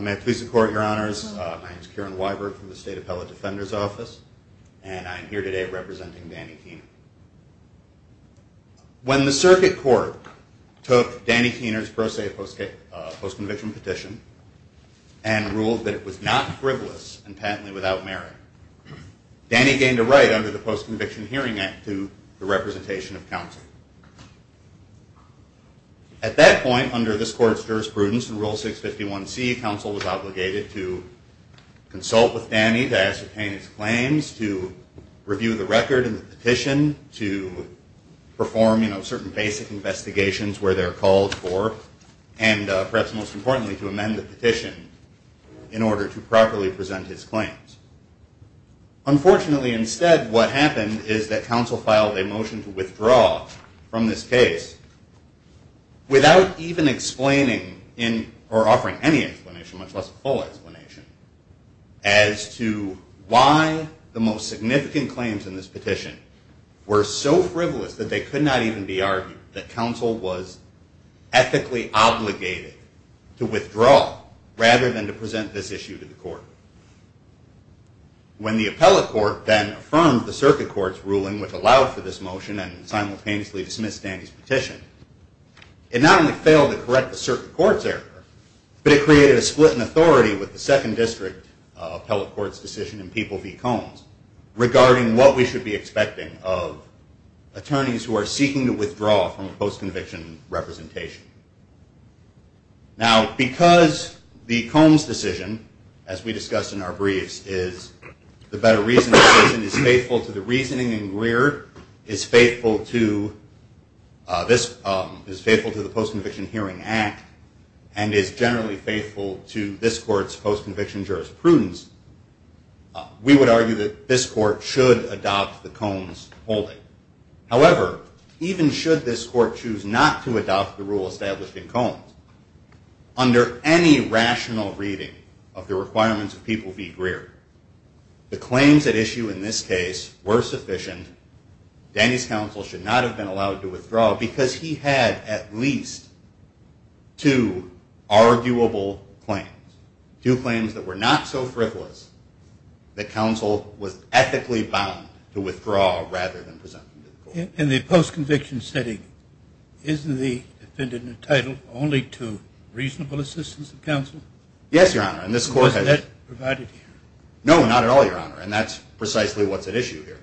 May I please the Court, Your Honors. My name is Kieran Weiberg from the State Appellate took Danny Kuehner's pro se post-conviction petition and ruled that it was not frivolous and patently without merit. Danny gained a right under the Post-Conviction Hearing Act to the representation of counsel. At that point, under this Court's jurisprudence in Rule 651C, counsel was obligated to consult with Danny to ascertain his claims, to review the record and the petition, to perform certain basic investigations where they're called for, and perhaps most importantly, to amend the petition in order to properly present his claims. Unfortunately, instead, what happened is that counsel filed a motion to withdraw from this case without even explaining or offering any explanation, much less a full explanation as to why the most significant claims in this petition were so frivolous that they could not even be argued, that counsel was ethically obligated to withdraw rather than to present this issue to the Court. When the Appellate Court then affirmed the Circuit Court's ruling which allowed for this motion and simultaneously dismissed Danny's petition, it not only failed to correct the Circuit Court's error, but it created a split in the Second District Appellate Court's decision in People v. Combs regarding what we should be expecting of attorneys who are seeking to withdraw from a post-conviction representation. Now because the Combs decision, as we discussed in our briefs, is the better reasoning decision, is faithful to the reasoning in Greer, is faithful to the Post-Conviction Hearing Act, and is generally faithful to this Court's post-conviction jurisprudence, we would argue that this Court should adopt the Combs holding. However, even should this Court choose not to adopt the rule established in Combs, under any rational reading of the requirements of People v. Greer, the claims at issue in this case were sufficient. Danny's counsel should not have been allowed to withdraw because he had at least two arguable claims, two claims that were not so frivolous that counsel was ethically bound to withdraw rather than present them to the Court. In the post-conviction setting, isn't the defendant entitled only to reasonable assistance of counsel? Yes, Your Honor, and this Court has- Was that provided here? No, not at all, Your Honor, and that's precisely what's at issue here.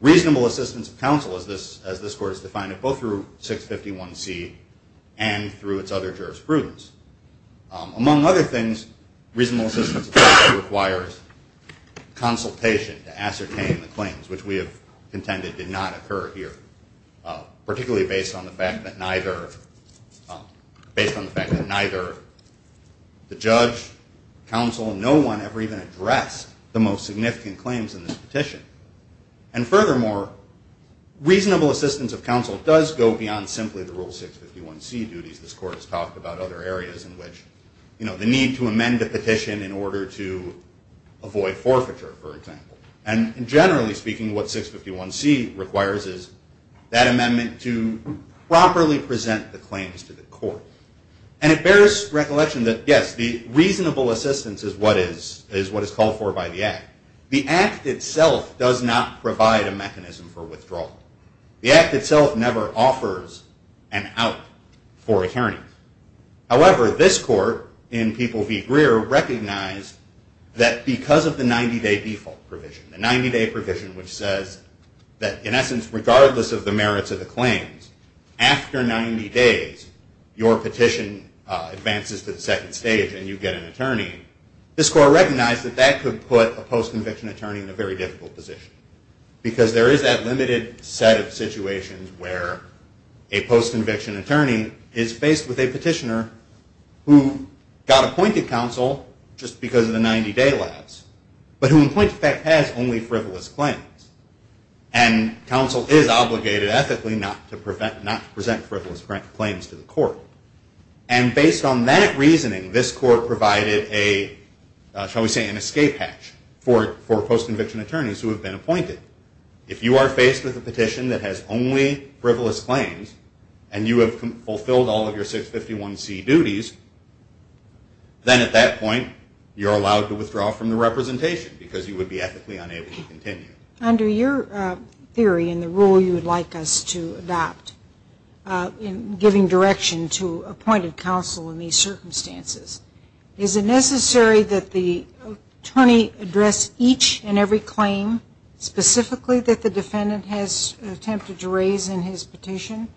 Reasonable assistance of counsel as this Court has defined it, both through 651C and through its other jurisprudence. Among other things, reasonable assistance of counsel requires consultation to ascertain the claims, which we have contended did not occur here, particularly based on the fact that neither the judge, counsel, no one ever even addressed the most significant claims in this petition. And furthermore, reasonable assistance of counsel does go beyond simply the rule 651C duties this Court has talked about other areas in which, you know, the need to amend a petition in order to avoid forfeiture, for example. And generally speaking, what 651C requires is that amendment to properly present the claims to the Court. And it bears recollection that, yes, the reasonable assistance is what is called for by the Act. The Act itself does not provide a mechanism for withdrawal. The Act itself never offers an out for attorneys. However, this Court in People v. Greer recognized that because of the 90-day default provision, the 90-day provision which says that, in essence, regardless of the merits of the claims, after 90 days, your petition advances to the second stage and you get an attorney, this Court recognized that that could put a post-conviction attorney in a very difficult position. Because there is that limited set of situations where a post-conviction attorney is faced with a petitioner who got appointed counsel just because of the 90-day lapse, but who in point of fact has only frivolous claims. And counsel is obligated ethically not to present frivolous claims to the Court. And based on that reasoning, this Court provided a, shall we say, an escape hatch for post-conviction attorneys who have been appointed. If you are faced with a petition that has only frivolous claims and you have fulfilled all of your 651C duties, then at that point you are allowed to withdraw from the representation because you would be ethically unable to continue. Under your theory and the rule you would like us to adopt in giving direction to appointed counsel in these circumstances, is it necessary that the attorney address each and every claim specifically that the defendant has attempted to raise in his petition?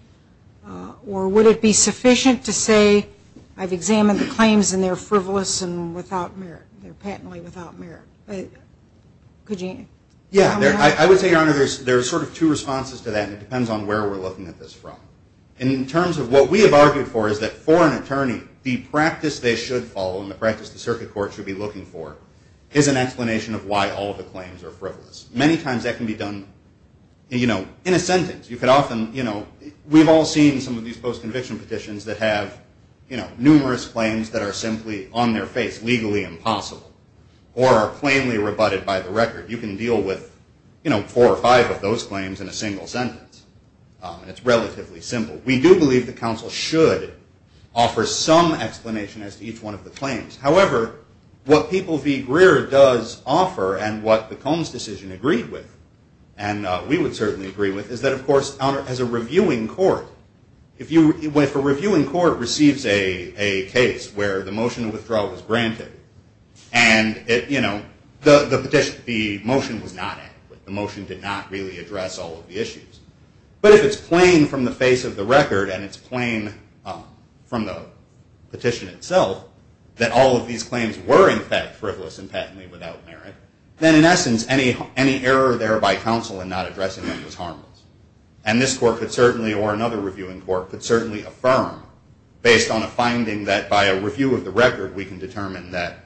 Or would it be patently without merit? I would say, Your Honor, there are sort of two responses to that, and it depends on where we're looking at this from. In terms of what we have argued for is that for an attorney, the practice they should follow and the practice the Circuit Court should be looking for is an explanation of why all of the claims are frivolous. Many times that can be done in a sentence. We've all seen some of these post-conviction petitions that have numerous claims that are simply on their face, legally impossible, or are plainly rebutted by the record. You can deal with four or five of those claims in a single sentence. It's relatively simple. We do believe the counsel should offer some explanation as to each one of the claims. However, what people v. Greer does offer and what the Combs decision agreed with, and we would certainly agree with, is that of course as a reviewing court receives a case where the motion of withdrawal is granted, and the motion was not adequate. The motion did not really address all of the issues. But if it's plain from the face of the record and it's plain from the petition itself that all of these claims were in fact frivolous and patently without merit, then in essence any error there by counsel in not addressing them is based on a finding that by a review of the record we can determine that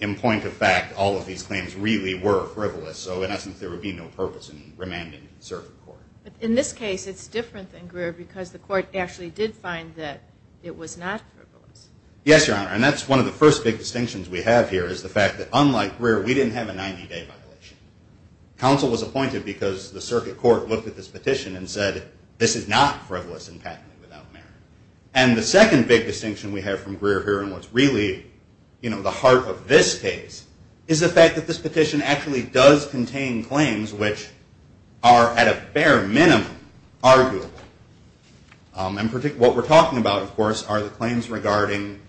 in point of fact all of these claims really were frivolous. So in essence there would be no purpose in remanding the circuit court. In this case it's different than Greer because the court actually did find that it was not frivolous. Yes, Your Honor. And that's one of the first big distinctions we have here is the fact that unlike Greer, we didn't have a 90-day violation. Counsel was appointed because the circuit court looked at this petition and said this is not frivolous and patently without merit. And the second big distinction we have from Greer here and what's really the heart of this case is the fact that this petition actually does contain claims which are at a bare minimum arguable. And what we're talking about of course are the claims regarding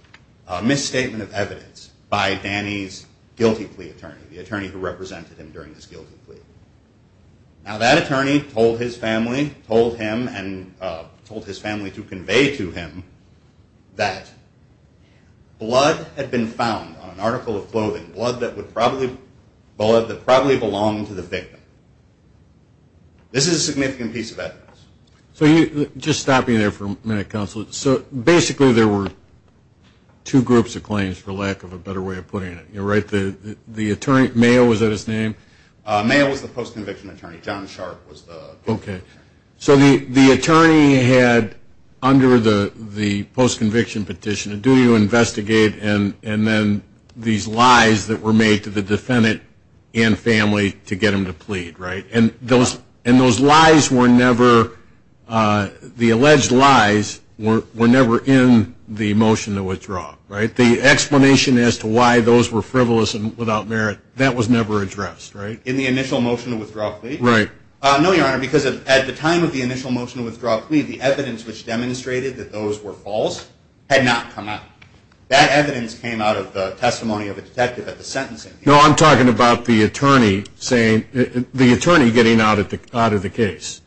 a misstatement of evidence by Danny's guilty plea attorney, the attorney who represented him during this guilty plea. Now that attorney told his family, told him and told his family to convey to him that blood had been found on an article of clothing, blood that probably belonged to the victim. This is a significant piece of evidence. So just stopping there for a minute, counsel. So basically there were two groups of claims for lack of a better way of putting it. You're right, the attorney, Mayo, was that his name? Mayo was the post-conviction attorney. John Sharp was the post-conviction attorney. So the attorney had under the post-conviction petition, do you investigate and then these lies that were made to the defendant and family to get them to plead, right? And those lies were never, the frivolous and without merit, that was never addressed, right? In the initial motion to withdraw a plea? Right. No, your honor, because at the time of the initial motion to withdraw a plea, the evidence which demonstrated that those were false had not come out. That evidence came out of the testimony of a detective at the sentencing. No, I'm talking about the attorney saying, the attorney getting out of the case.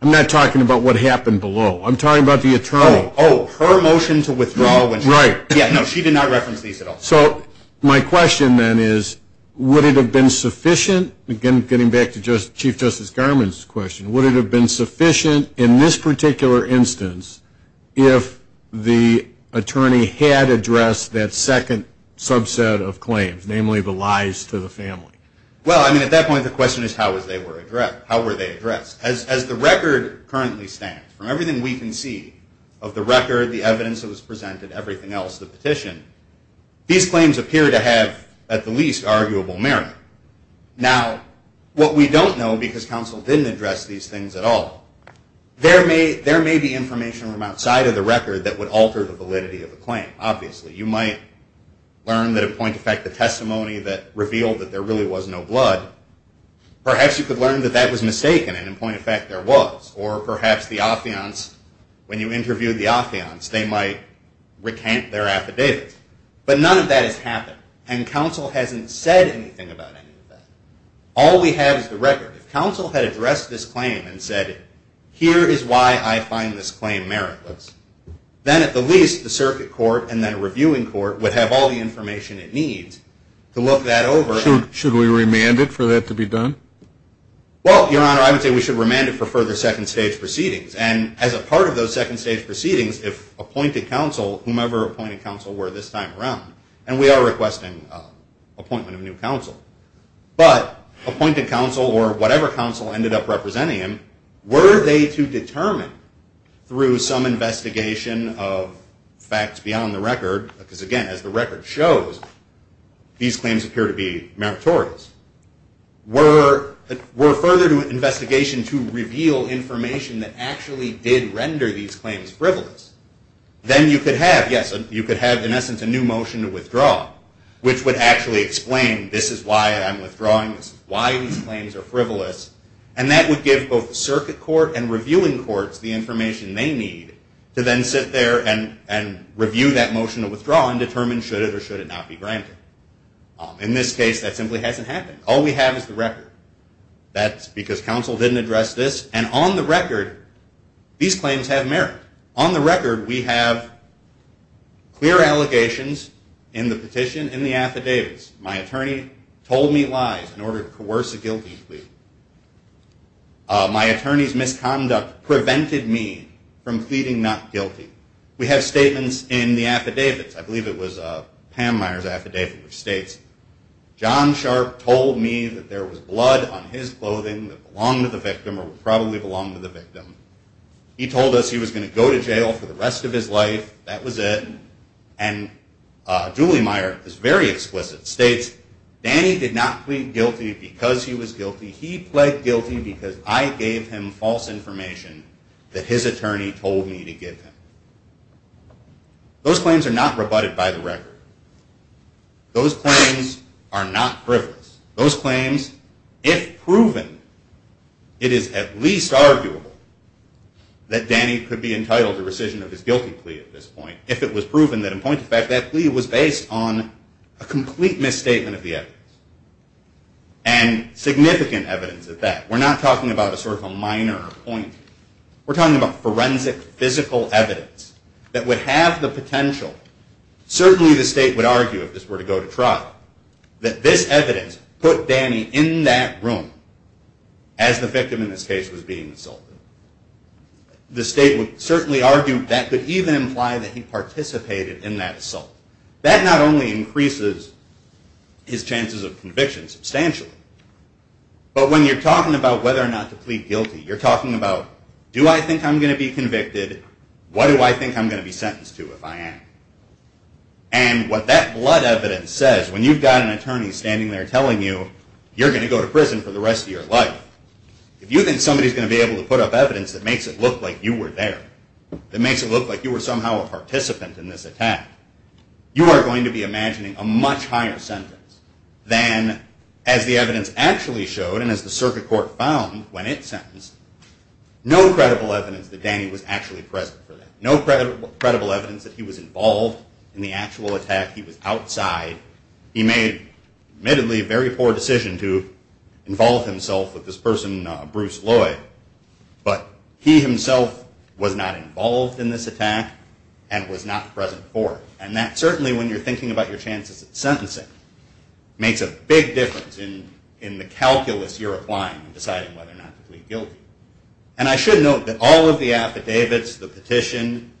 I'm not talking about what happened below. I'm talking about the attorney. Oh, her motion to withdraw. Right. Yeah, no, she did not reference these at all. So my question then is, would it have been sufficient, again getting back to Chief Justice Garmon's question, would it have been sufficient in this particular instance if the attorney had addressed that second subset of claims, namely the lies to the family? Well, I mean, at that point the question is, how were they addressed? As the record currently stands, from everything we can see of the record, the evidence that was presented, everything else, the petition, these claims appear to have, at the least, arguable merit. Now, what we don't know, because counsel didn't address these things at all, there may be information from outside of the record that would alter the validity of the claim, obviously. You might learn that, in point of fact, the testimony that revealed that there really was no blood, perhaps you could learn that that was mistaken and, in point of fact, there was. Or perhaps the affiance, when you interviewed the affiance, they might recant their affidavits. But none of that has happened. And counsel hasn't said anything about any of that. All we have is the record. If counsel had addressed this claim and said, here is why I find this claim meritless, then, at the least, the circuit court and then a reviewing court would have all the information it needs to look that over. Should we remand it for that to be done? Well, Your Honor, I would say we should remand it for further second stage proceedings. And as a part of those second stage proceedings, if appointed counsel, whomever appointed counsel were this time around, and we are requesting appointment of new counsel, but appointed counsel or whatever counsel ended up representing him, were they to determine, through some investigation of facts beyond the record, because, again, as the record shows, these claims appear to be meritorious, were further investigation to reveal information that actually did render these claims frivolous, then you could have, in essence, a new motion to withdraw, which would actually explain, this is why I'm withdrawing. This is why these claims are frivolous. And that would give both the circuit court and reviewing courts the information they need to then sit there and review that motion to withdraw and determine should it or should it not be granted. In this case, that simply hasn't happened. All we have is the record. That's because counsel didn't address this. And on the record, these claims have merit. On the record, we have clear allegations in the petition, in the affidavits. My attorney told me lies in order to coerce a guilty plea. My attorney's misconduct prevented me from pleading not guilty. We have statements in the affidavits. I believe it was Pam Meyer's affidavit, which states, John Sharp told me that there was blood on his clothing that belonged to the victim or probably belonged to the victim. He told us he was going to go to jail for the rest of his life. That was it. And Julie Meyer is very exquisite, states, Danny did not plead guilty because he was guilty. He pled guilty because I gave him false information that his attorney told me to give him. Those claims are not rebutted by the record. Those claims are not frivolous. Those claims, if proven, it is at least arguable that Danny could be entitled to rescission of his guilty plea at this point if it was proven that, in point of fact, that plea was based on a complete misstatement of the evidence and significant evidence of that. We're not talking about a sort of a minor point. We're talking about forensic, physical evidence that would have the potential, certainly the state would argue if this were to go to trial, that this evidence put Danny in that room as the victim in this case was being assaulted. The state would certainly argue that could even imply that he participated in that assault. That not only increases his chances of conviction substantially, but when you're asking yourself, do I think I'm going to be convicted? What do I think I'm going to be sentenced to if I am? And what that blood evidence says, when you've got an attorney standing there telling you you're going to go to prison for the rest of your life, if you think somebody's going to be able to put up evidence that makes it look like you were there, that makes it look like you were somehow a participant in this attack, you are going to be imagining a much higher sentence than, as the evidence actually showed and as the circuit court found when it sentenced, no credible evidence that Danny was actually present for that. No credible evidence that he was involved in the actual attack. He was outside. He made, admittedly, a very poor decision to involve himself with this person, Bruce Lloyd, but he himself was not involved in this attack and was not present for it. And that certainly, when you're thinking about your chances of sentencing, makes a big difference in the calculus you're applying when deciding whether or not to plead guilty. And I should note that all of the affidavits, the petition,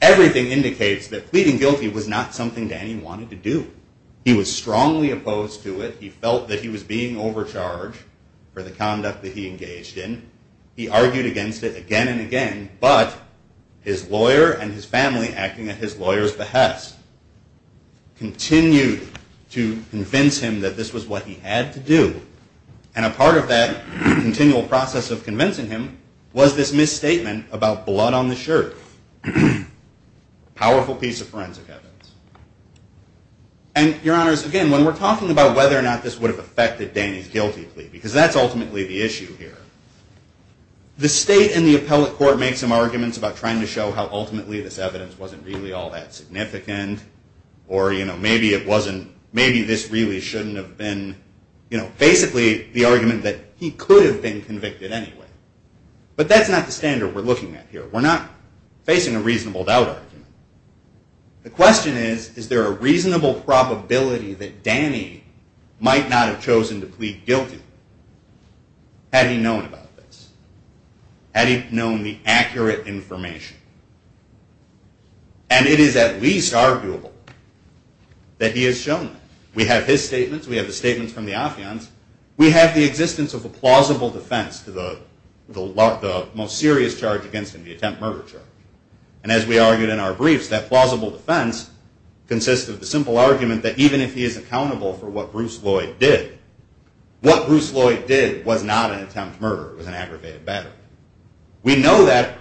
everything indicates that pleading guilty was not something Danny wanted to do. He was strongly opposed to it. He felt that he was being overcharged for the conduct that he engaged in. He argued against it again and again, but his lawyer and his family, acting at his discretion, that this was what he had to do. And a part of that continual process of convincing him was this misstatement about blood on the shirt. Powerful piece of forensic evidence. And your honors, again, when we're talking about whether or not this would have affected Danny's guilty plea, because that's ultimately the issue here, the state and the appellate court make some arguments about trying to show how ultimately this evidence wasn't really all that significant, or maybe this really shouldn't have been. Basically, the argument that he could have been convicted anyway. But that's not the standard we're looking at here. We're not facing a reasonable doubt argument. The question is, is there a reasonable probability that Danny might not have chosen to plead guilty had he known about this? Had he known the accurate information? And it is at least arguable that he has shown that. We have his statements. We have the statements from the Afyans. We have the existence of a plausible defense to the most serious charge against him, the attempt murder charge. And as we argued in our briefs, that plausible defense consists of the simple argument that even if he is accountable for what Bruce Lloyd did, what Bruce Lloyd did was not an attempt murder. It was an aggravated battery. We know that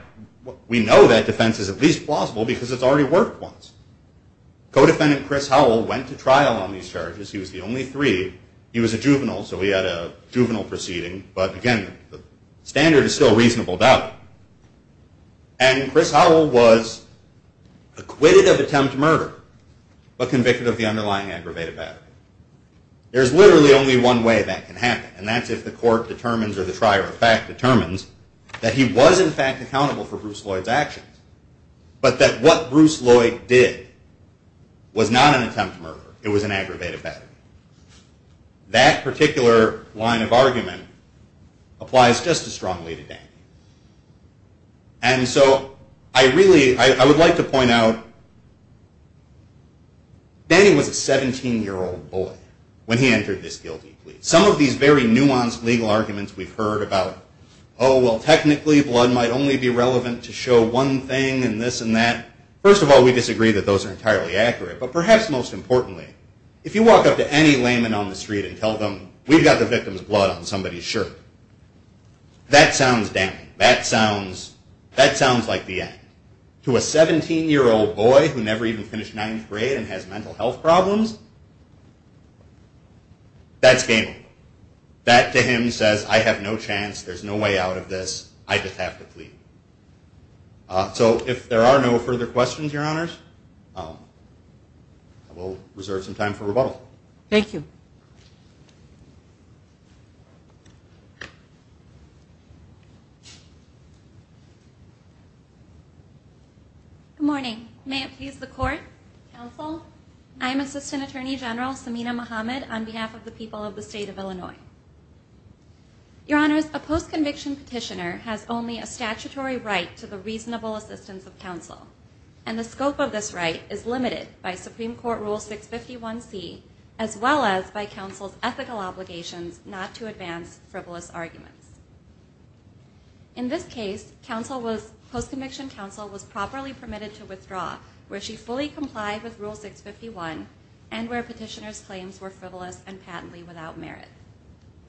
defense is at least plausible because it's already worked once. Codefendant Chris Howell went to trial on these charges. He was the only three. He was a juvenile, so he had a juvenile proceeding. But again, the standard is still a reasonable doubt. And Chris Howell was acquitted of attempt murder, but convicted of the underlying aggravated battery. There's literally only one way that can happen, and that's if the court determines or the fact accountable for Bruce Lloyd's actions, but that what Bruce Lloyd did was not an attempt murder. It was an aggravated battery. That particular line of argument applies just as strongly to Danny. And so I really, I would like to point out, Danny was a 17-year-old boy when he entered this guilty plea. Some of these very nuanced legal arguments we've heard about, oh, well, technically blood might only be relevant to show one thing and this and that, first of all, we disagree that those are entirely accurate. But perhaps most importantly, if you walk up to any layman on the street and tell them, we've got the victim's blood on somebody's shirt, that sounds damning. That sounds like the end. To a 17-year-old boy who never even finished ninth grade and has mental health problems, that's game over. That, to him, says, I have no chance. There's no way out of this. I just have to plead. So if there are no further questions, Your Honors, we'll reserve some time for rebuttal. Thank you. Good morning. May it please the court, counsel. I am Assistant Attorney General Samina Mohammed on behalf of the people of the state of Illinois. Your Honors, a post-conviction petitioner has only a statutory right to the reasonable assistance of counsel, and the scope of this right is limited by Supreme Court Rule 651C as well as by counsel's ethical obligations not to advance frivolous arguments. In this case, post-conviction counsel was properly permitted to withdraw where she fully complied with Rule 651 and where petitioner's claims were frivolous and patently without merit.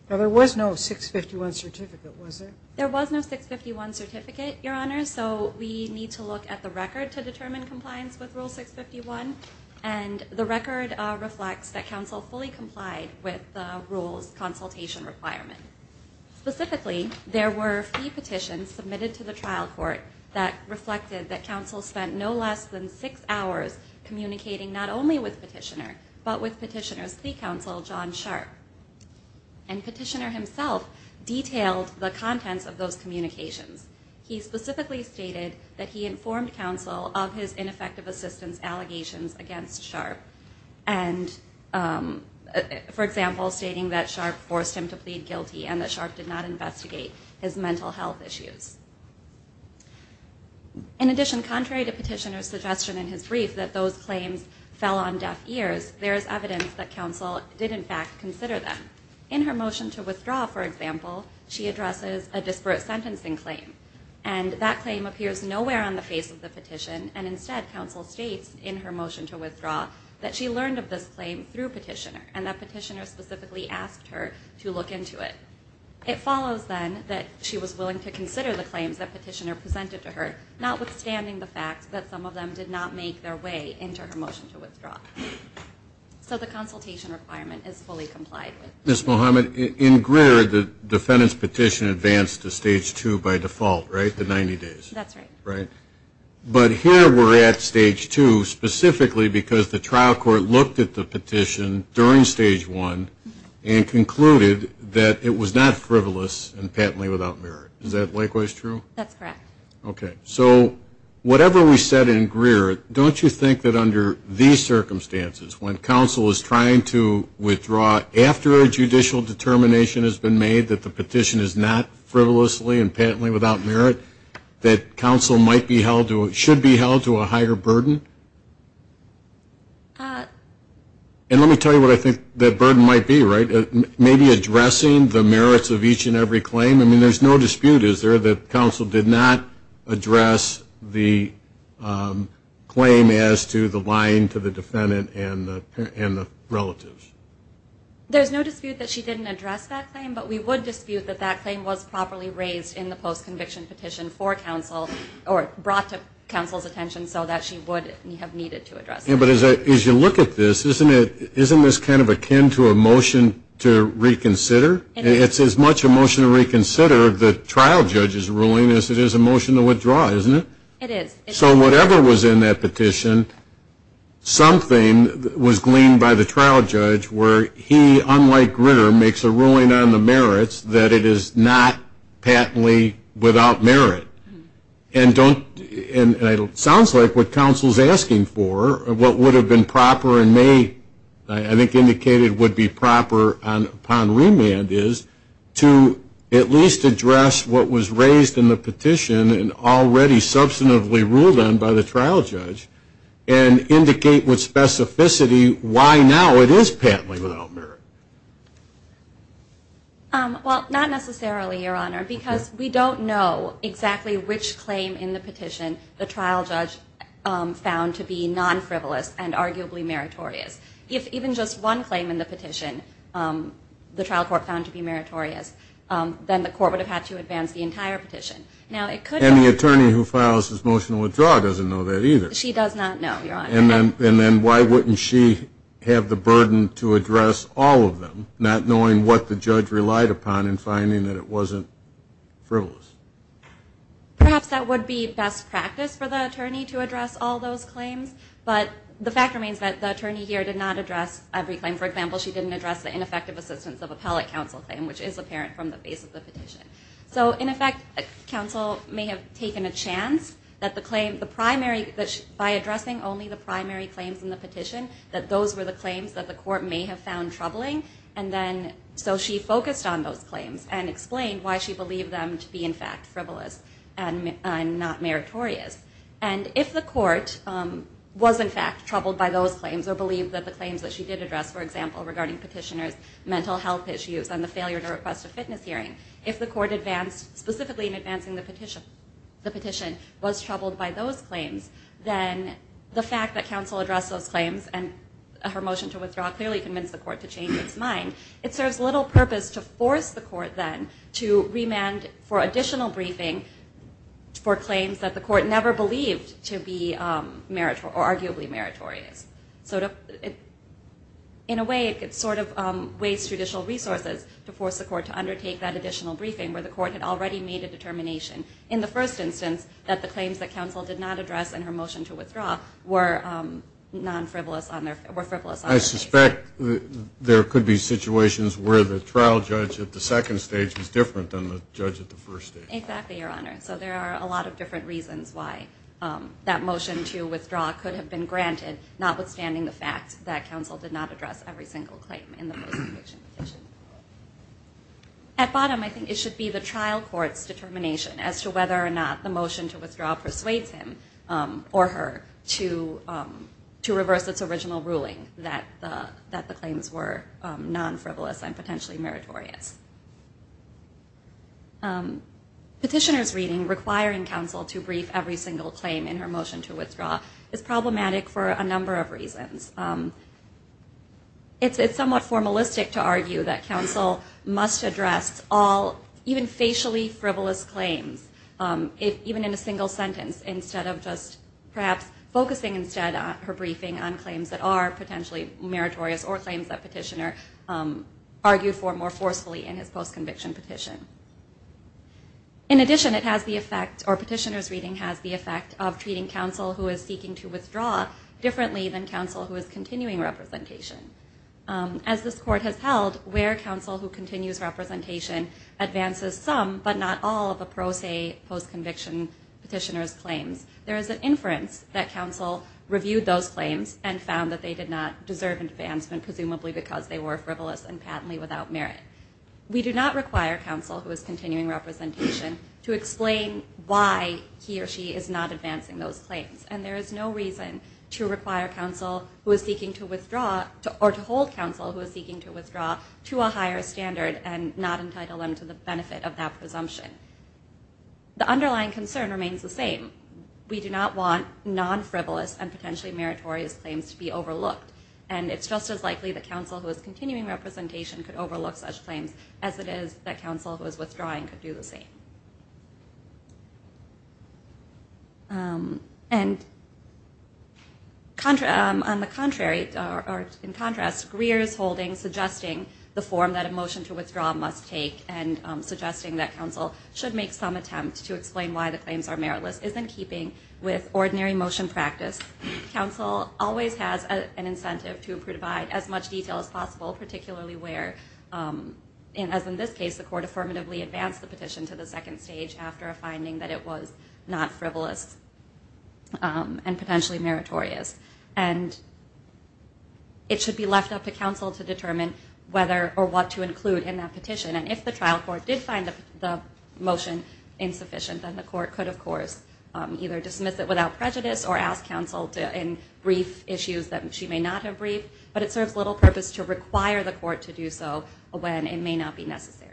There was no 651 certificate, was there? There was no 651 certificate, Your Honors, so we need to look at the record to determine compliance with Rule 651. And the record reflects that counsel fully complied with the rule's consultation requirement. Specifically, there were three petitions submitted to the trial court that reflected that counsel spent no less than six hours communicating not only with petitioner, but with petitioner's plea counsel, John Sharp. And petitioner himself detailed the contents of those communications. He specifically stated that he informed counsel of his ineffective assistance allegations against Sharp, and for example, stating that Sharp forced him to plead guilty and that Sharp did not investigate his mental health issues. In addition, contrary to petitioner's suggestion in his brief that those claims fell on deaf ears, there is evidence that counsel did in fact consider them. In her motion to withdraw, for example, she addresses a disparate sentencing claim. And that claim appears nowhere on the face of the petition, and instead, counsel states in her motion to withdraw that she learned of this claim through petitioner, and that petitioner specifically asked her to look into it. It follows then that she was willing to consider the claims that petitioner presented to her, notwithstanding the fact that some of them did not make their way into her motion to withdraw. So the consultation requirement is fully complied with. Ms. Mohamed, in Greer, the defendant's petition advanced to stage two by default, right? The 90 days. That's right. Right. But here we're at stage two specifically because the trial court looked at the petition during stage one and concluded that it was not frivolous and patently without merit. Is that likewise true? That's correct. Okay. So whatever we said in Greer, don't you think that under these circumstances, when counsel is trying to withdraw after a judicial determination has been made that the petition is not frivolously and patently without merit, that counsel might be held to or should be held to a higher burden? And let me tell you what I think that burden might be, right? Maybe addressing the merits of each and every claim? I mean, there's no dispute, is there, that counsel did not address the claim as to the lying to the defendant and the relatives? There's no dispute that she didn't address that claim, but we would dispute that that claim was properly raised in the post-conviction petition for counsel or brought to But as you look at this, isn't this kind of akin to a motion to reconsider? It's as much a motion to reconsider the trial judge's ruling as it is a motion to withdraw, isn't it? It is. So whatever was in that petition, something was gleaned by the trial judge where he, unlike Greer, makes a ruling on the merits that it is not patently without merit. And it sounds like what counsel's asking for, what would have been proper and may, I think, indicated would be proper upon remand is to at least address what was raised in the petition and already substantively ruled on by the trial judge and indicate with specificity why now it is patently without merit. Well, not necessarily, Your Honor, because we don't know exactly which claim in the petition the trial judge found to be non-frivolous and arguably meritorious. If even just one claim in the petition the trial court found to be meritorious, then the court would have had to advance the entire petition. And the attorney who files this motion to withdraw doesn't know that either. She does not know, Your Honor. And then why wouldn't she have the burden to address all of them, not knowing what the judge relied upon in finding that it wasn't frivolous? Perhaps that would be best practice for the attorney to address all those claims. But the fact remains that the attorney here did not address every claim. For example, she didn't address the ineffective assistance of appellate counsel claim, which is apparent from the base of the petition. So, in effect, counsel may have taken a chance that the claim, the primary, by addressing only the primary claims in the petition, that those were the claims that the court may have found troubling. And then, so she focused on those claims and explained why she believed them to be, in fact, frivolous and not meritorious. And if the court was, in fact, troubled by those claims or believed that the claims that she did address, for example, regarding petitioners' mental health issues and the failure to request a fitness hearing, if the court advanced, specifically in advancing the petition, was troubled by those claims, then the fact that counsel addressed those claims and her motion to withdraw clearly convinced the court to change its mind. It serves little purpose to force the court then to remand for additional briefing for claims that the court never believed to be meritorious or arguably meritorious. So, in a way, it sort of wastes judicial resources to force the court to undertake that additional briefing where the court had already made a determination. In the first instance, that the claims that counsel did not address in her motion to withdraw were non-frivolous on their case. I suspect there could be situations where the trial judge at the second stage was different than the judge at the first stage. Exactly, Your Honor. So there are a lot of different reasons why that motion to withdraw could have been granted, notwithstanding the fact that counsel did not address every single claim in the post-conviction petition. At bottom, I think it should be the trial court's determination as to whether or not the motion to withdraw persuades him or her to reverse its original ruling that the claims were non-frivolous and potentially meritorious. Petitioner's reading requiring counsel to brief every single claim in her motion is somewhat formalistic to argue that counsel must address all, even facially frivolous claims, even in a single sentence, instead of just perhaps focusing instead on her briefing on claims that are potentially meritorious or claims that petitioner argued for more forcefully in his post-conviction petition. In addition, it has the effect, or petitioner's reading has the effect of treating counsel who is seeking to withdraw differently than counsel who is continuing representation. As this court has held, where counsel who continues representation advances some, but not all, of a pro se post-conviction petitioner's claims, there is an inference that counsel reviewed those claims and found that they did not deserve advancement, presumably because they were frivolous and patently without merit. We do not require counsel who is continuing representation to explain why he or she is not advancing those claims, and there is no reason to require counsel who is seeking to withdraw, or to hold counsel who is seeking to withdraw to a higher standard and not entitle them to the benefit of that presumption. The underlying concern remains the same. We do not want non-frivolous and potentially meritorious claims to be overlooked, and it's just as likely that counsel who is continuing representation could overlook such claims as it is that counsel who is withdrawing could do the same. And on the contrary, or in contrast, Greer is holding, suggesting the form that a motion to withdraw must take and suggesting that counsel should make some attempt to explain why the claims are meritless is in keeping with ordinary motion practice. Counsel always has an incentive to provide as much detail as possible, particularly where, as in this case, the court affirmatively advanced the petition to the second stage after a finding that it was not frivolous and potentially meritorious. And it should be left up to counsel to determine whether or what to include in that petition, and if the trial court did find the motion insufficient, then the court could, of course, either dismiss it without prejudice or ask counsel in brief issues that she may not have briefed, but it serves little purpose to require the court to do so when it may not be necessary.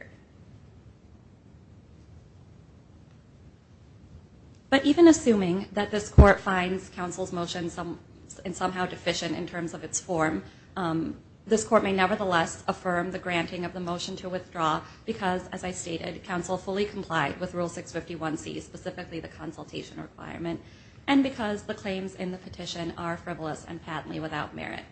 But even assuming that this court finds counsel's motion somehow deficient in terms of its form, this court may nevertheless affirm the granting of the motion to withdraw because, as I stated, counsel fully complied with Rule 651C, specifically the consultation requirement, and because the claims in the petition are frivolous and patently without merit.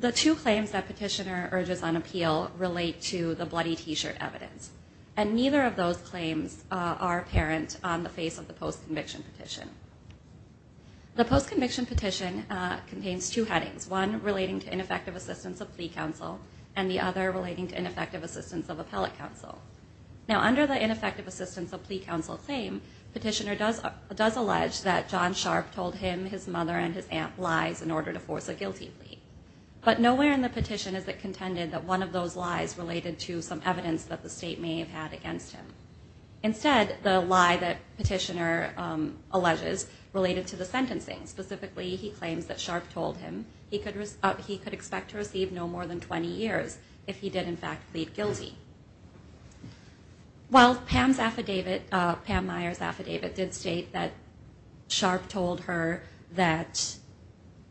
The two claims that Petitioner urges on appeal relate to the bloody T-shirt evidence, and neither of those claims are apparent on the face of the post-conviction petition. The post-conviction petition contains two headings, one relating to ineffective assistance of plea counsel and the other relating to ineffective assistance of appellate counsel. Now, under the ineffective assistance of plea counsel claim, Petitioner does allege that John Sharp told him his mother and his aunt lies in order to force a guilty plea, but nowhere in the petition is it contended that one of those lies related to some evidence that the state may have had against him. Instead, the lie that Petitioner alleges related to the sentencing, specifically he claims that Sharp told him he could expect to receive no more than 20 years if he did, in fact, plead guilty. While Pam's affidavit, Pam Meyer's affidavit did state that Sharp told her that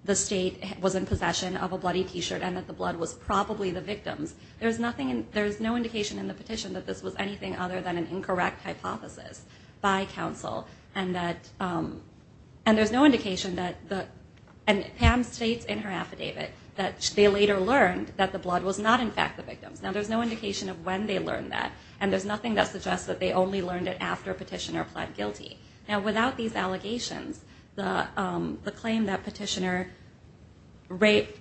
the state was in possession of a bloody T-shirt and that the blood was probably the victim's, there's no indication in the petition that this was anything other than an incorrect hypothesis by counsel, and there's no indication that, and Pam states in her affidavit that they later learned that the blood was not, in fact, the victim's. Now, there's no indication of when they learned that, and there's nothing that suggests that they only learned it after Petitioner pled guilty. Now, without these allegations, the claim that Petitioner raped,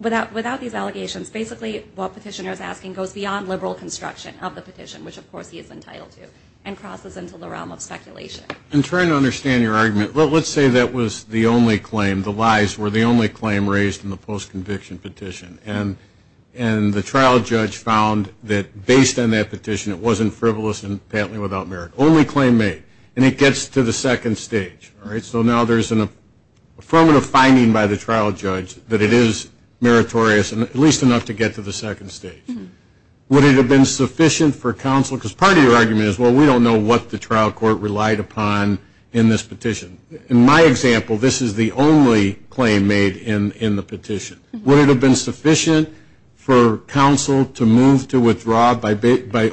without these allegations, basically what Petitioner is asking goes beyond liberal construction of the petition, which of course he is entitled to, and crosses into the realm of speculation. I'm trying to understand your argument. Let's say that was the only claim, the lies were the only claim raised in the trial, the trial judge found that based on that petition it wasn't frivolous and apparently without merit, only claim made, and it gets to the second stage. All right? So now there's an affirmative finding by the trial judge that it is meritorious, at least enough to get to the second stage. Would it have been sufficient for counsel, because part of your argument is, well, we don't know what the trial court relied upon in this petition. In my example, this is the only claim made in the petition. Would it have been sufficient for counsel to move to withdraw by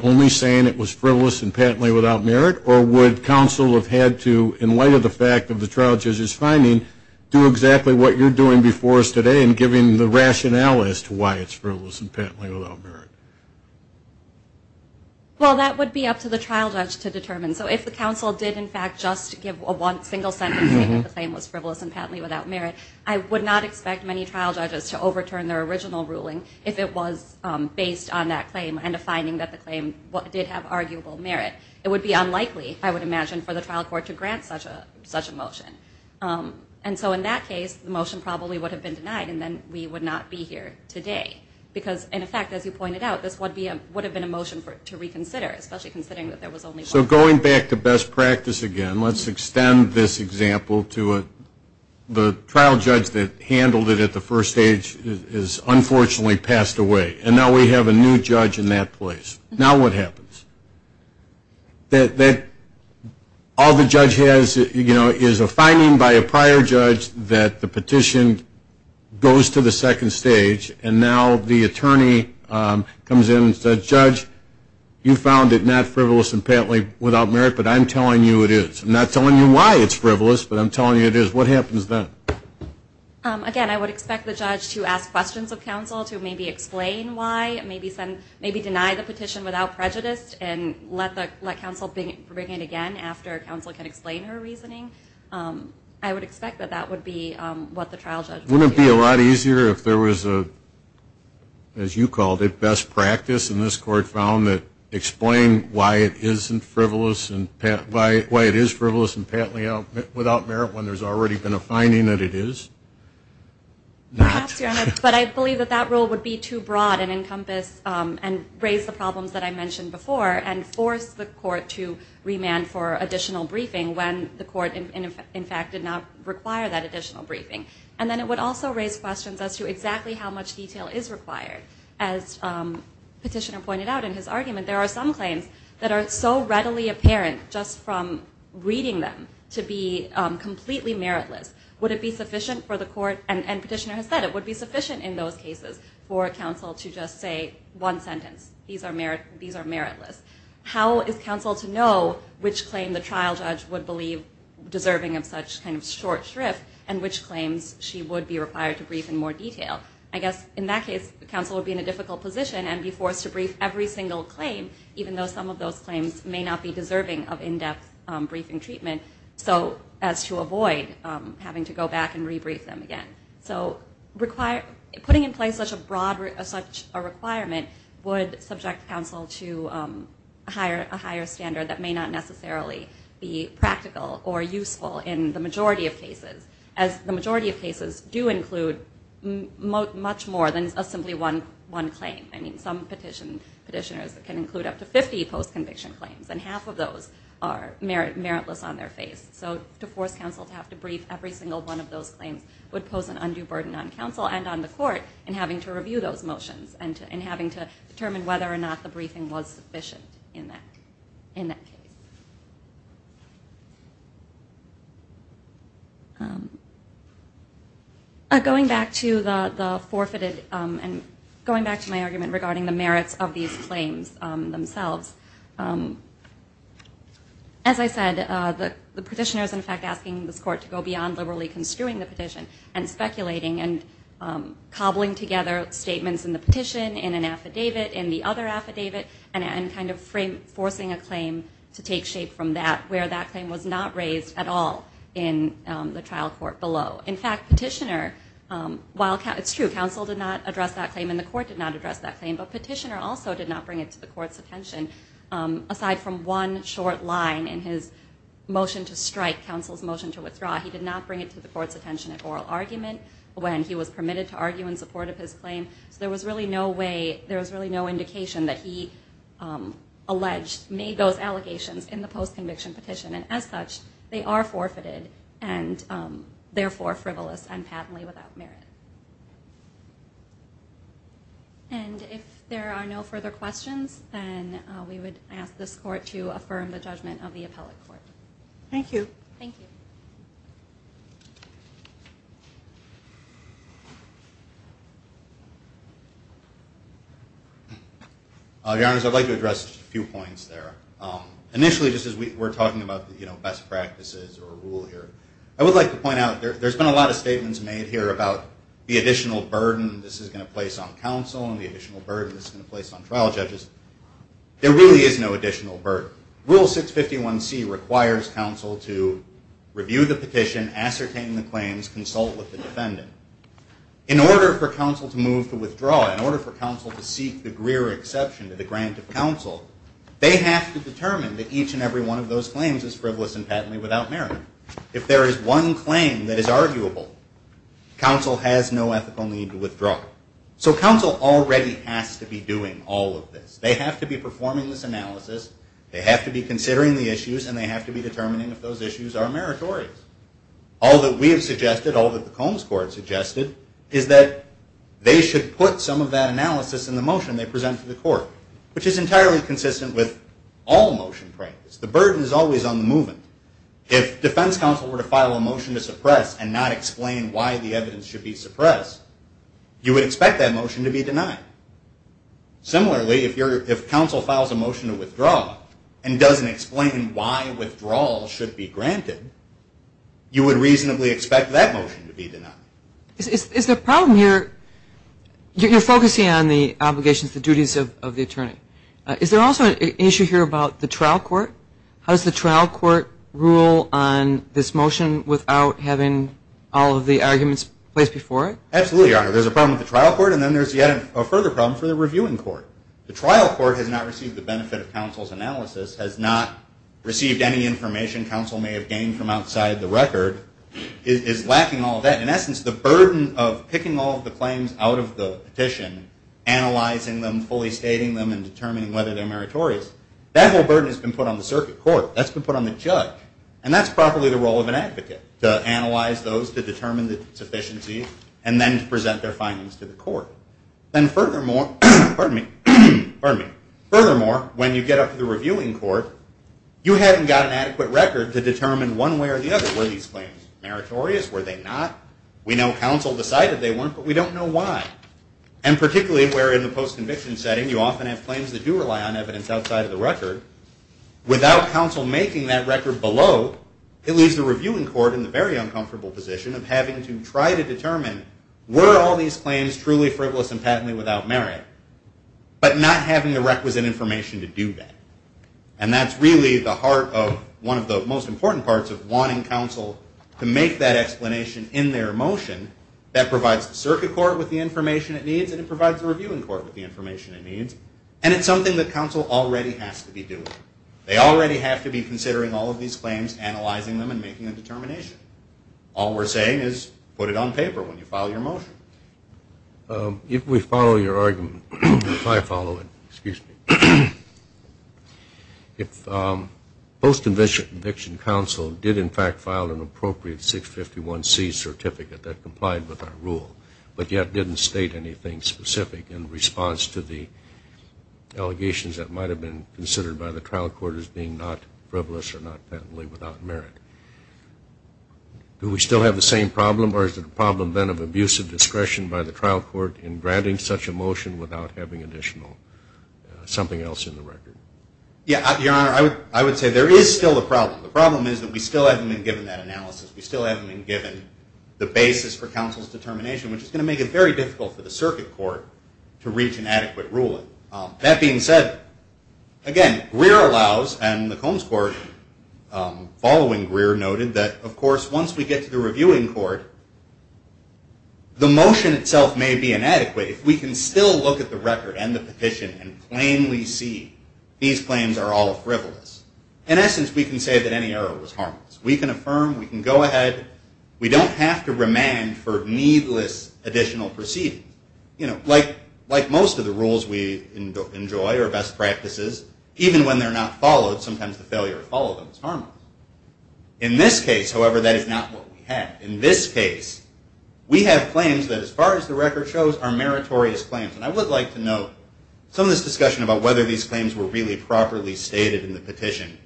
only saying it was frivolous and patently without merit, or would counsel have had to, in light of the fact of the trial judge's finding, do exactly what you're doing before us today in giving the rationale as to why it's frivolous and patently without merit? Well, that would be up to the trial judge to determine. So if the counsel did, in fact, just give a single sentence saying the claim was frivolous and patently without merit, I would not expect many trial judges to overturn their original ruling if it was based on that claim and a finding that the claim did have arguable merit. It would be unlikely, I would imagine, for the trial court to grant such a motion. And so in that case, the motion probably would have been denied, and then we would not be here today. Because, in effect, as you pointed out, this would have been a motion to reconsider, especially considering that there was only one. So going back to best practice again, let's extend this example to the trial judge that handled it at the first stage is unfortunately passed away, and now we have a new judge in that place. Now what happens? All the judge has, you know, is a finding by a prior judge that the petition goes to the second stage, and now the attorney comes in and says, Judge, you found it not frivolous and patently without merit, but I'm telling you it is. I'm not telling you why it's frivolous, but I'm telling you it is. What happens then? Again, I would expect the judge to ask questions of counsel to maybe explain why, maybe deny the petition without prejudice, and let counsel bring it again after counsel can explain her reasoning. I would expect that that would be what the trial judge would do. Wouldn't it be a lot easier if there was a, as you called it, best practice, and this court found that explain why it is frivolous and patently without merit when there's already been a finding that it is? But I believe that that rule would be too broad and encompass and raise the problems that I mentioned before and force the court to remand for additional briefing when the court, in fact, did not require that additional briefing. And then it would also raise questions as to exactly how much detail is required as Petitioner pointed out in his argument. There are some claims that are so readily apparent just from reading them to be completely meritless. Would it be sufficient for the court, and Petitioner has said it, would be sufficient in those cases for counsel to just say one sentence, these are meritless. How is counsel to know which claim the trial judge would believe deserving of such kind of short shrift and which claims she would be required to brief in more detail? I guess in that case, counsel would be in a difficult position and be forced to brief every single claim, even though some of those claims may not be deserving of in-depth briefing treatment as to avoid having to go back and rebrief them again. So putting in place such a requirement would subject counsel to a higher standard that may not necessarily be practical or useful in the majority of cases, as the majority of cases do include much more than simply one claim. Some petitioners can include up to 50 post-conviction claims, and half of those are meritless on their face. So to force counsel to have to brief every single one of those claims would pose an undue burden on counsel and on the court in having to review those motions and having to determine whether or not the briefing was sufficient in that case. Going back to the forfeited, and going back to my argument regarding the merits of these claims themselves, as I said, the petitioners in fact asking this court and speculating and cobbling together statements in the petition, in an affidavit, in the other affidavit, and kind of forcing a claim to take shape from that, where that claim was not raised at all in the trial court below. In fact, petitioner, while it's true, counsel did not address that claim and the court did not address that claim, but petitioner also did not bring it to the court's attention. Aside from one short line in his motion to strike, counsel's motion to withdraw, he did not bring it to the court's attention at oral argument when he was permitted to argue in support of his claim. So there was really no way, there was really no indication that he alleged, made those allegations in the post-conviction petition. And as such, they are forfeited, and therefore frivolous and patently without merit. And if there are no further questions, then we would ask this court to affirm the judgment of the appellate court. Thank you. Thank you. Your Honors, I'd like to address a few points there. Initially, just as we were talking about best practices or rule here, I would like to point out there's been a lot of statements made here about the additional burden this is going to place on counsel and the additional burden this is going to place on trial judges. There really is no additional burden. Rule 651C requires counsel to review the petition, ascertain the claims, consult with the defendant. In order for counsel to move to withdraw, in order for counsel to seek the Greer exception to the grant of counsel, they have to determine that each and every one of those claims is frivolous and patently without merit. If there is one claim that is arguable, counsel has no ethical need to withdraw. So counsel already has to be doing all of this. They have to be performing this analysis. They have to be considering the issues, and they have to be determining if those issues are meritorious. All that we have suggested, all that the Combs Court suggested, is that they should put some of that analysis in the motion they present to the court, which is entirely consistent with all motion practice. The burden is always on the movement. If defense counsel were to file a motion to suppress and not explain why the evidence should be suppressed, you would expect that motion to be denied. Similarly, if counsel files a motion to withdraw and doesn't explain why withdrawal should be granted, you would reasonably expect that motion to be denied. Is there a problem here? You're focusing on the obligations, the duties of the attorney. Is there also an issue here about the trial court? How does the trial court rule on this motion without having all of the arguments placed before it? Absolutely, Your Honor. There's a problem with the trial court, and then there's yet a further problem for the reviewing court. The trial court has not received the benefit of counsel's analysis, has not received any information counsel may have gained from outside the record, is lacking all of that. In essence, the burden of picking all of the claims out of the petition, analyzing them, fully stating them, and determining whether they're meritorious, that whole burden has been put on the circuit court. That's been put on the judge. And that's probably the role of an advocate, to analyze those to determine the sufficiency and then to present their findings to the court. And furthermore, when you get up to the reviewing court, you haven't got an adequate record to determine one way or the other, were these claims meritorious, were they not? We know counsel decided they weren't, but we don't know why. And particularly where in the post-conviction setting, you often have claims that do rely on evidence outside of the record, without counsel making that record below, it leaves the reviewing court in the very uncomfortable position of having to try to determine, were all these claims truly frivolous and patently without merit, but not having the requisite information to do that. And that's really the heart of one of the most important parts of wanting counsel to make that explanation in their motion that provides the circuit court with the information it needs and it provides the reviewing court with the information it needs. And it's something that counsel already has to be doing. They already have to be considering all of these claims, analyzing them, and making a determination. All we're saying is put it on paper when you file your motion. If we follow your argument, if I follow it, if post-conviction counsel did, in fact, file an appropriate 651C certificate that complied with our rule, but yet didn't state anything specific in response to the allegations that might have been considered by the trial court as being not frivolous or not patently without merit, do we still have the same problem or is it a problem then of abusive discretion by the trial court in granting such a motion without having additional something else in the record? Yeah, Your Honor, I would say there is still a problem. The problem is that we still haven't been given that analysis. We still haven't been given the basis for counsel's determination, which is going to make it very difficult for the circuit court to reach an adequate ruling. That being said, again, Greer allows and the Combs Court following Greer noted that, of course, once we get to the reviewing court, the motion itself may be inadequate if we can still look at the record and the petition and plainly see these claims are all frivolous. In essence, we can say that any error was harmless. We can affirm, we can go ahead. We don't have to remand for needless additional proceedings. Like most of the rules we enjoy or best practices, even when they're not followed, sometimes the failure to follow them is harmless. In this case, however, that is not what we have. In this case, we have claims that as far as the record shows are meritorious claims. And I would like to note some of this discussion about whether these claims were really properly stated in the petition.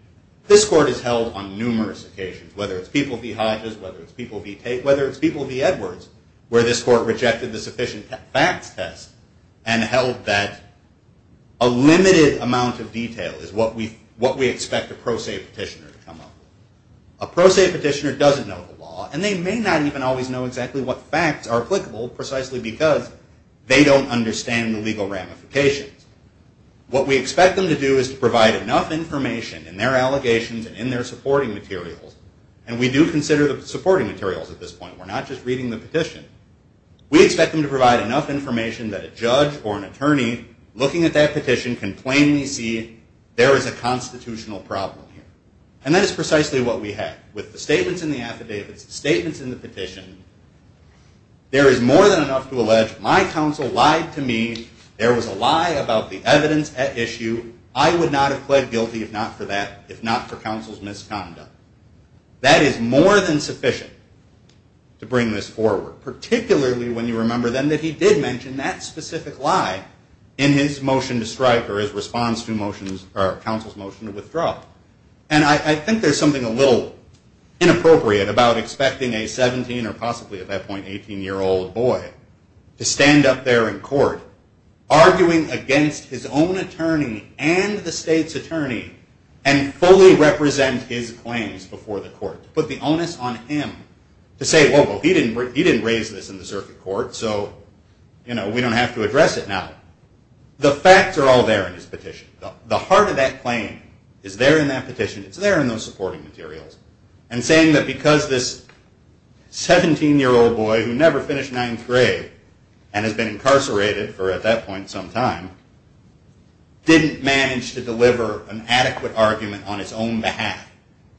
This court has held on numerous occasions, whether it's People v. Hodges, whether it's People v. Tate, whether it's People v. Edwards, where this court rejected the sufficient facts test and held that a limited amount of detail is what we expect a pro se petitioner to come up with. A pro se petitioner doesn't know the law, and they may not even always know exactly what facts are applicable precisely because they don't understand the legal ramifications. What we expect them to do is to provide enough information in their allegations and in their supporting materials, and we do consider the supporting materials at this point. We're not just reading the petition. We expect them to provide enough information that a judge or an attorney looking at that petition can plainly see there is a constitutional problem here. And that is precisely what we have. With the statements in the affidavits, the statements in the petition, there is more than enough to allege my counsel lied to me. There was a lie about the evidence at issue. I would not have pled guilty if not for that, if not for counsel's misconduct. That is more than sufficient to bring this forward, particularly when you remember then that he did mention that specific lie in his motion to strike or his response to counsel's motion to withdraw. And I think there's something a little inappropriate about expecting a 17 or possibly at that point 18-year-old boy to stand up there in court arguing against his own attorney and the state's attorney and fully represent his claims before the court, put the onus on him to say, well, he didn't raise this in the circuit court, so we don't have to address it now. The facts are all there in his petition. The heart of that claim is there in that petition. It's there in those supporting materials. And saying that because this 17-year-old boy who never finished ninth grade and has been incarcerated for, at that point, some time, didn't manage to deliver an adequate argument on his own behalf,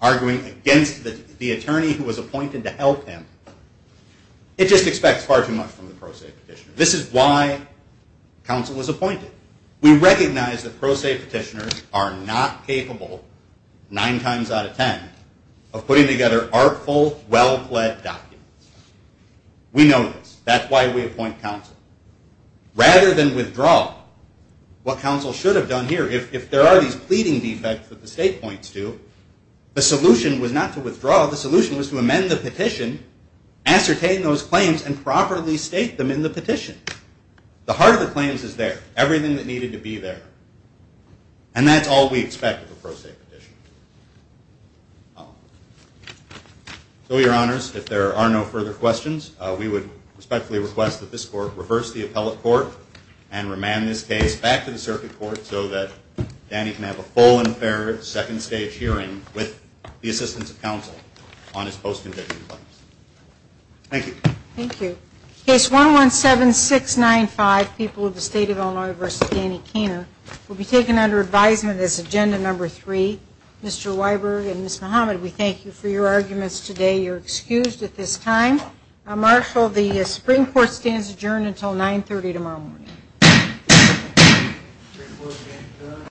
arguing against the attorney who was appointed to help him, it just expects far too much from the pro se petitioner. This is why counsel was appointed. We recognize that pro se petitioners are not capable, nine times out of ten, of putting together artful, well-led documents. We know this. That's why we appoint counsel. Rather than withdraw, what counsel should have done here, if there are these pleading defects that the state points to, the solution was not to withdraw. The solution was to amend the petition, ascertain those claims, and properly state them in the petition. The heart of the claims is there, everything that needed to be there. And that's all we expect of a pro se petitioner. So, Your Honors, if there are no further questions, we would respectfully request that this court reverse the appellate court and remand this case back to the circuit court so that Danny can have a full and fair second stage hearing with the assistance of counsel on his post-conviction claims. Thank you. Thank you. Case 117695, People of the State of Illinois v. Danny Keener, will be taken under advisement as agenda number three. Mr. Weiberg and Ms. Muhammad, we thank you for your arguments today. You're excused at this time. Marshal, the Supreme Court stands adjourned until 930 tomorrow morning.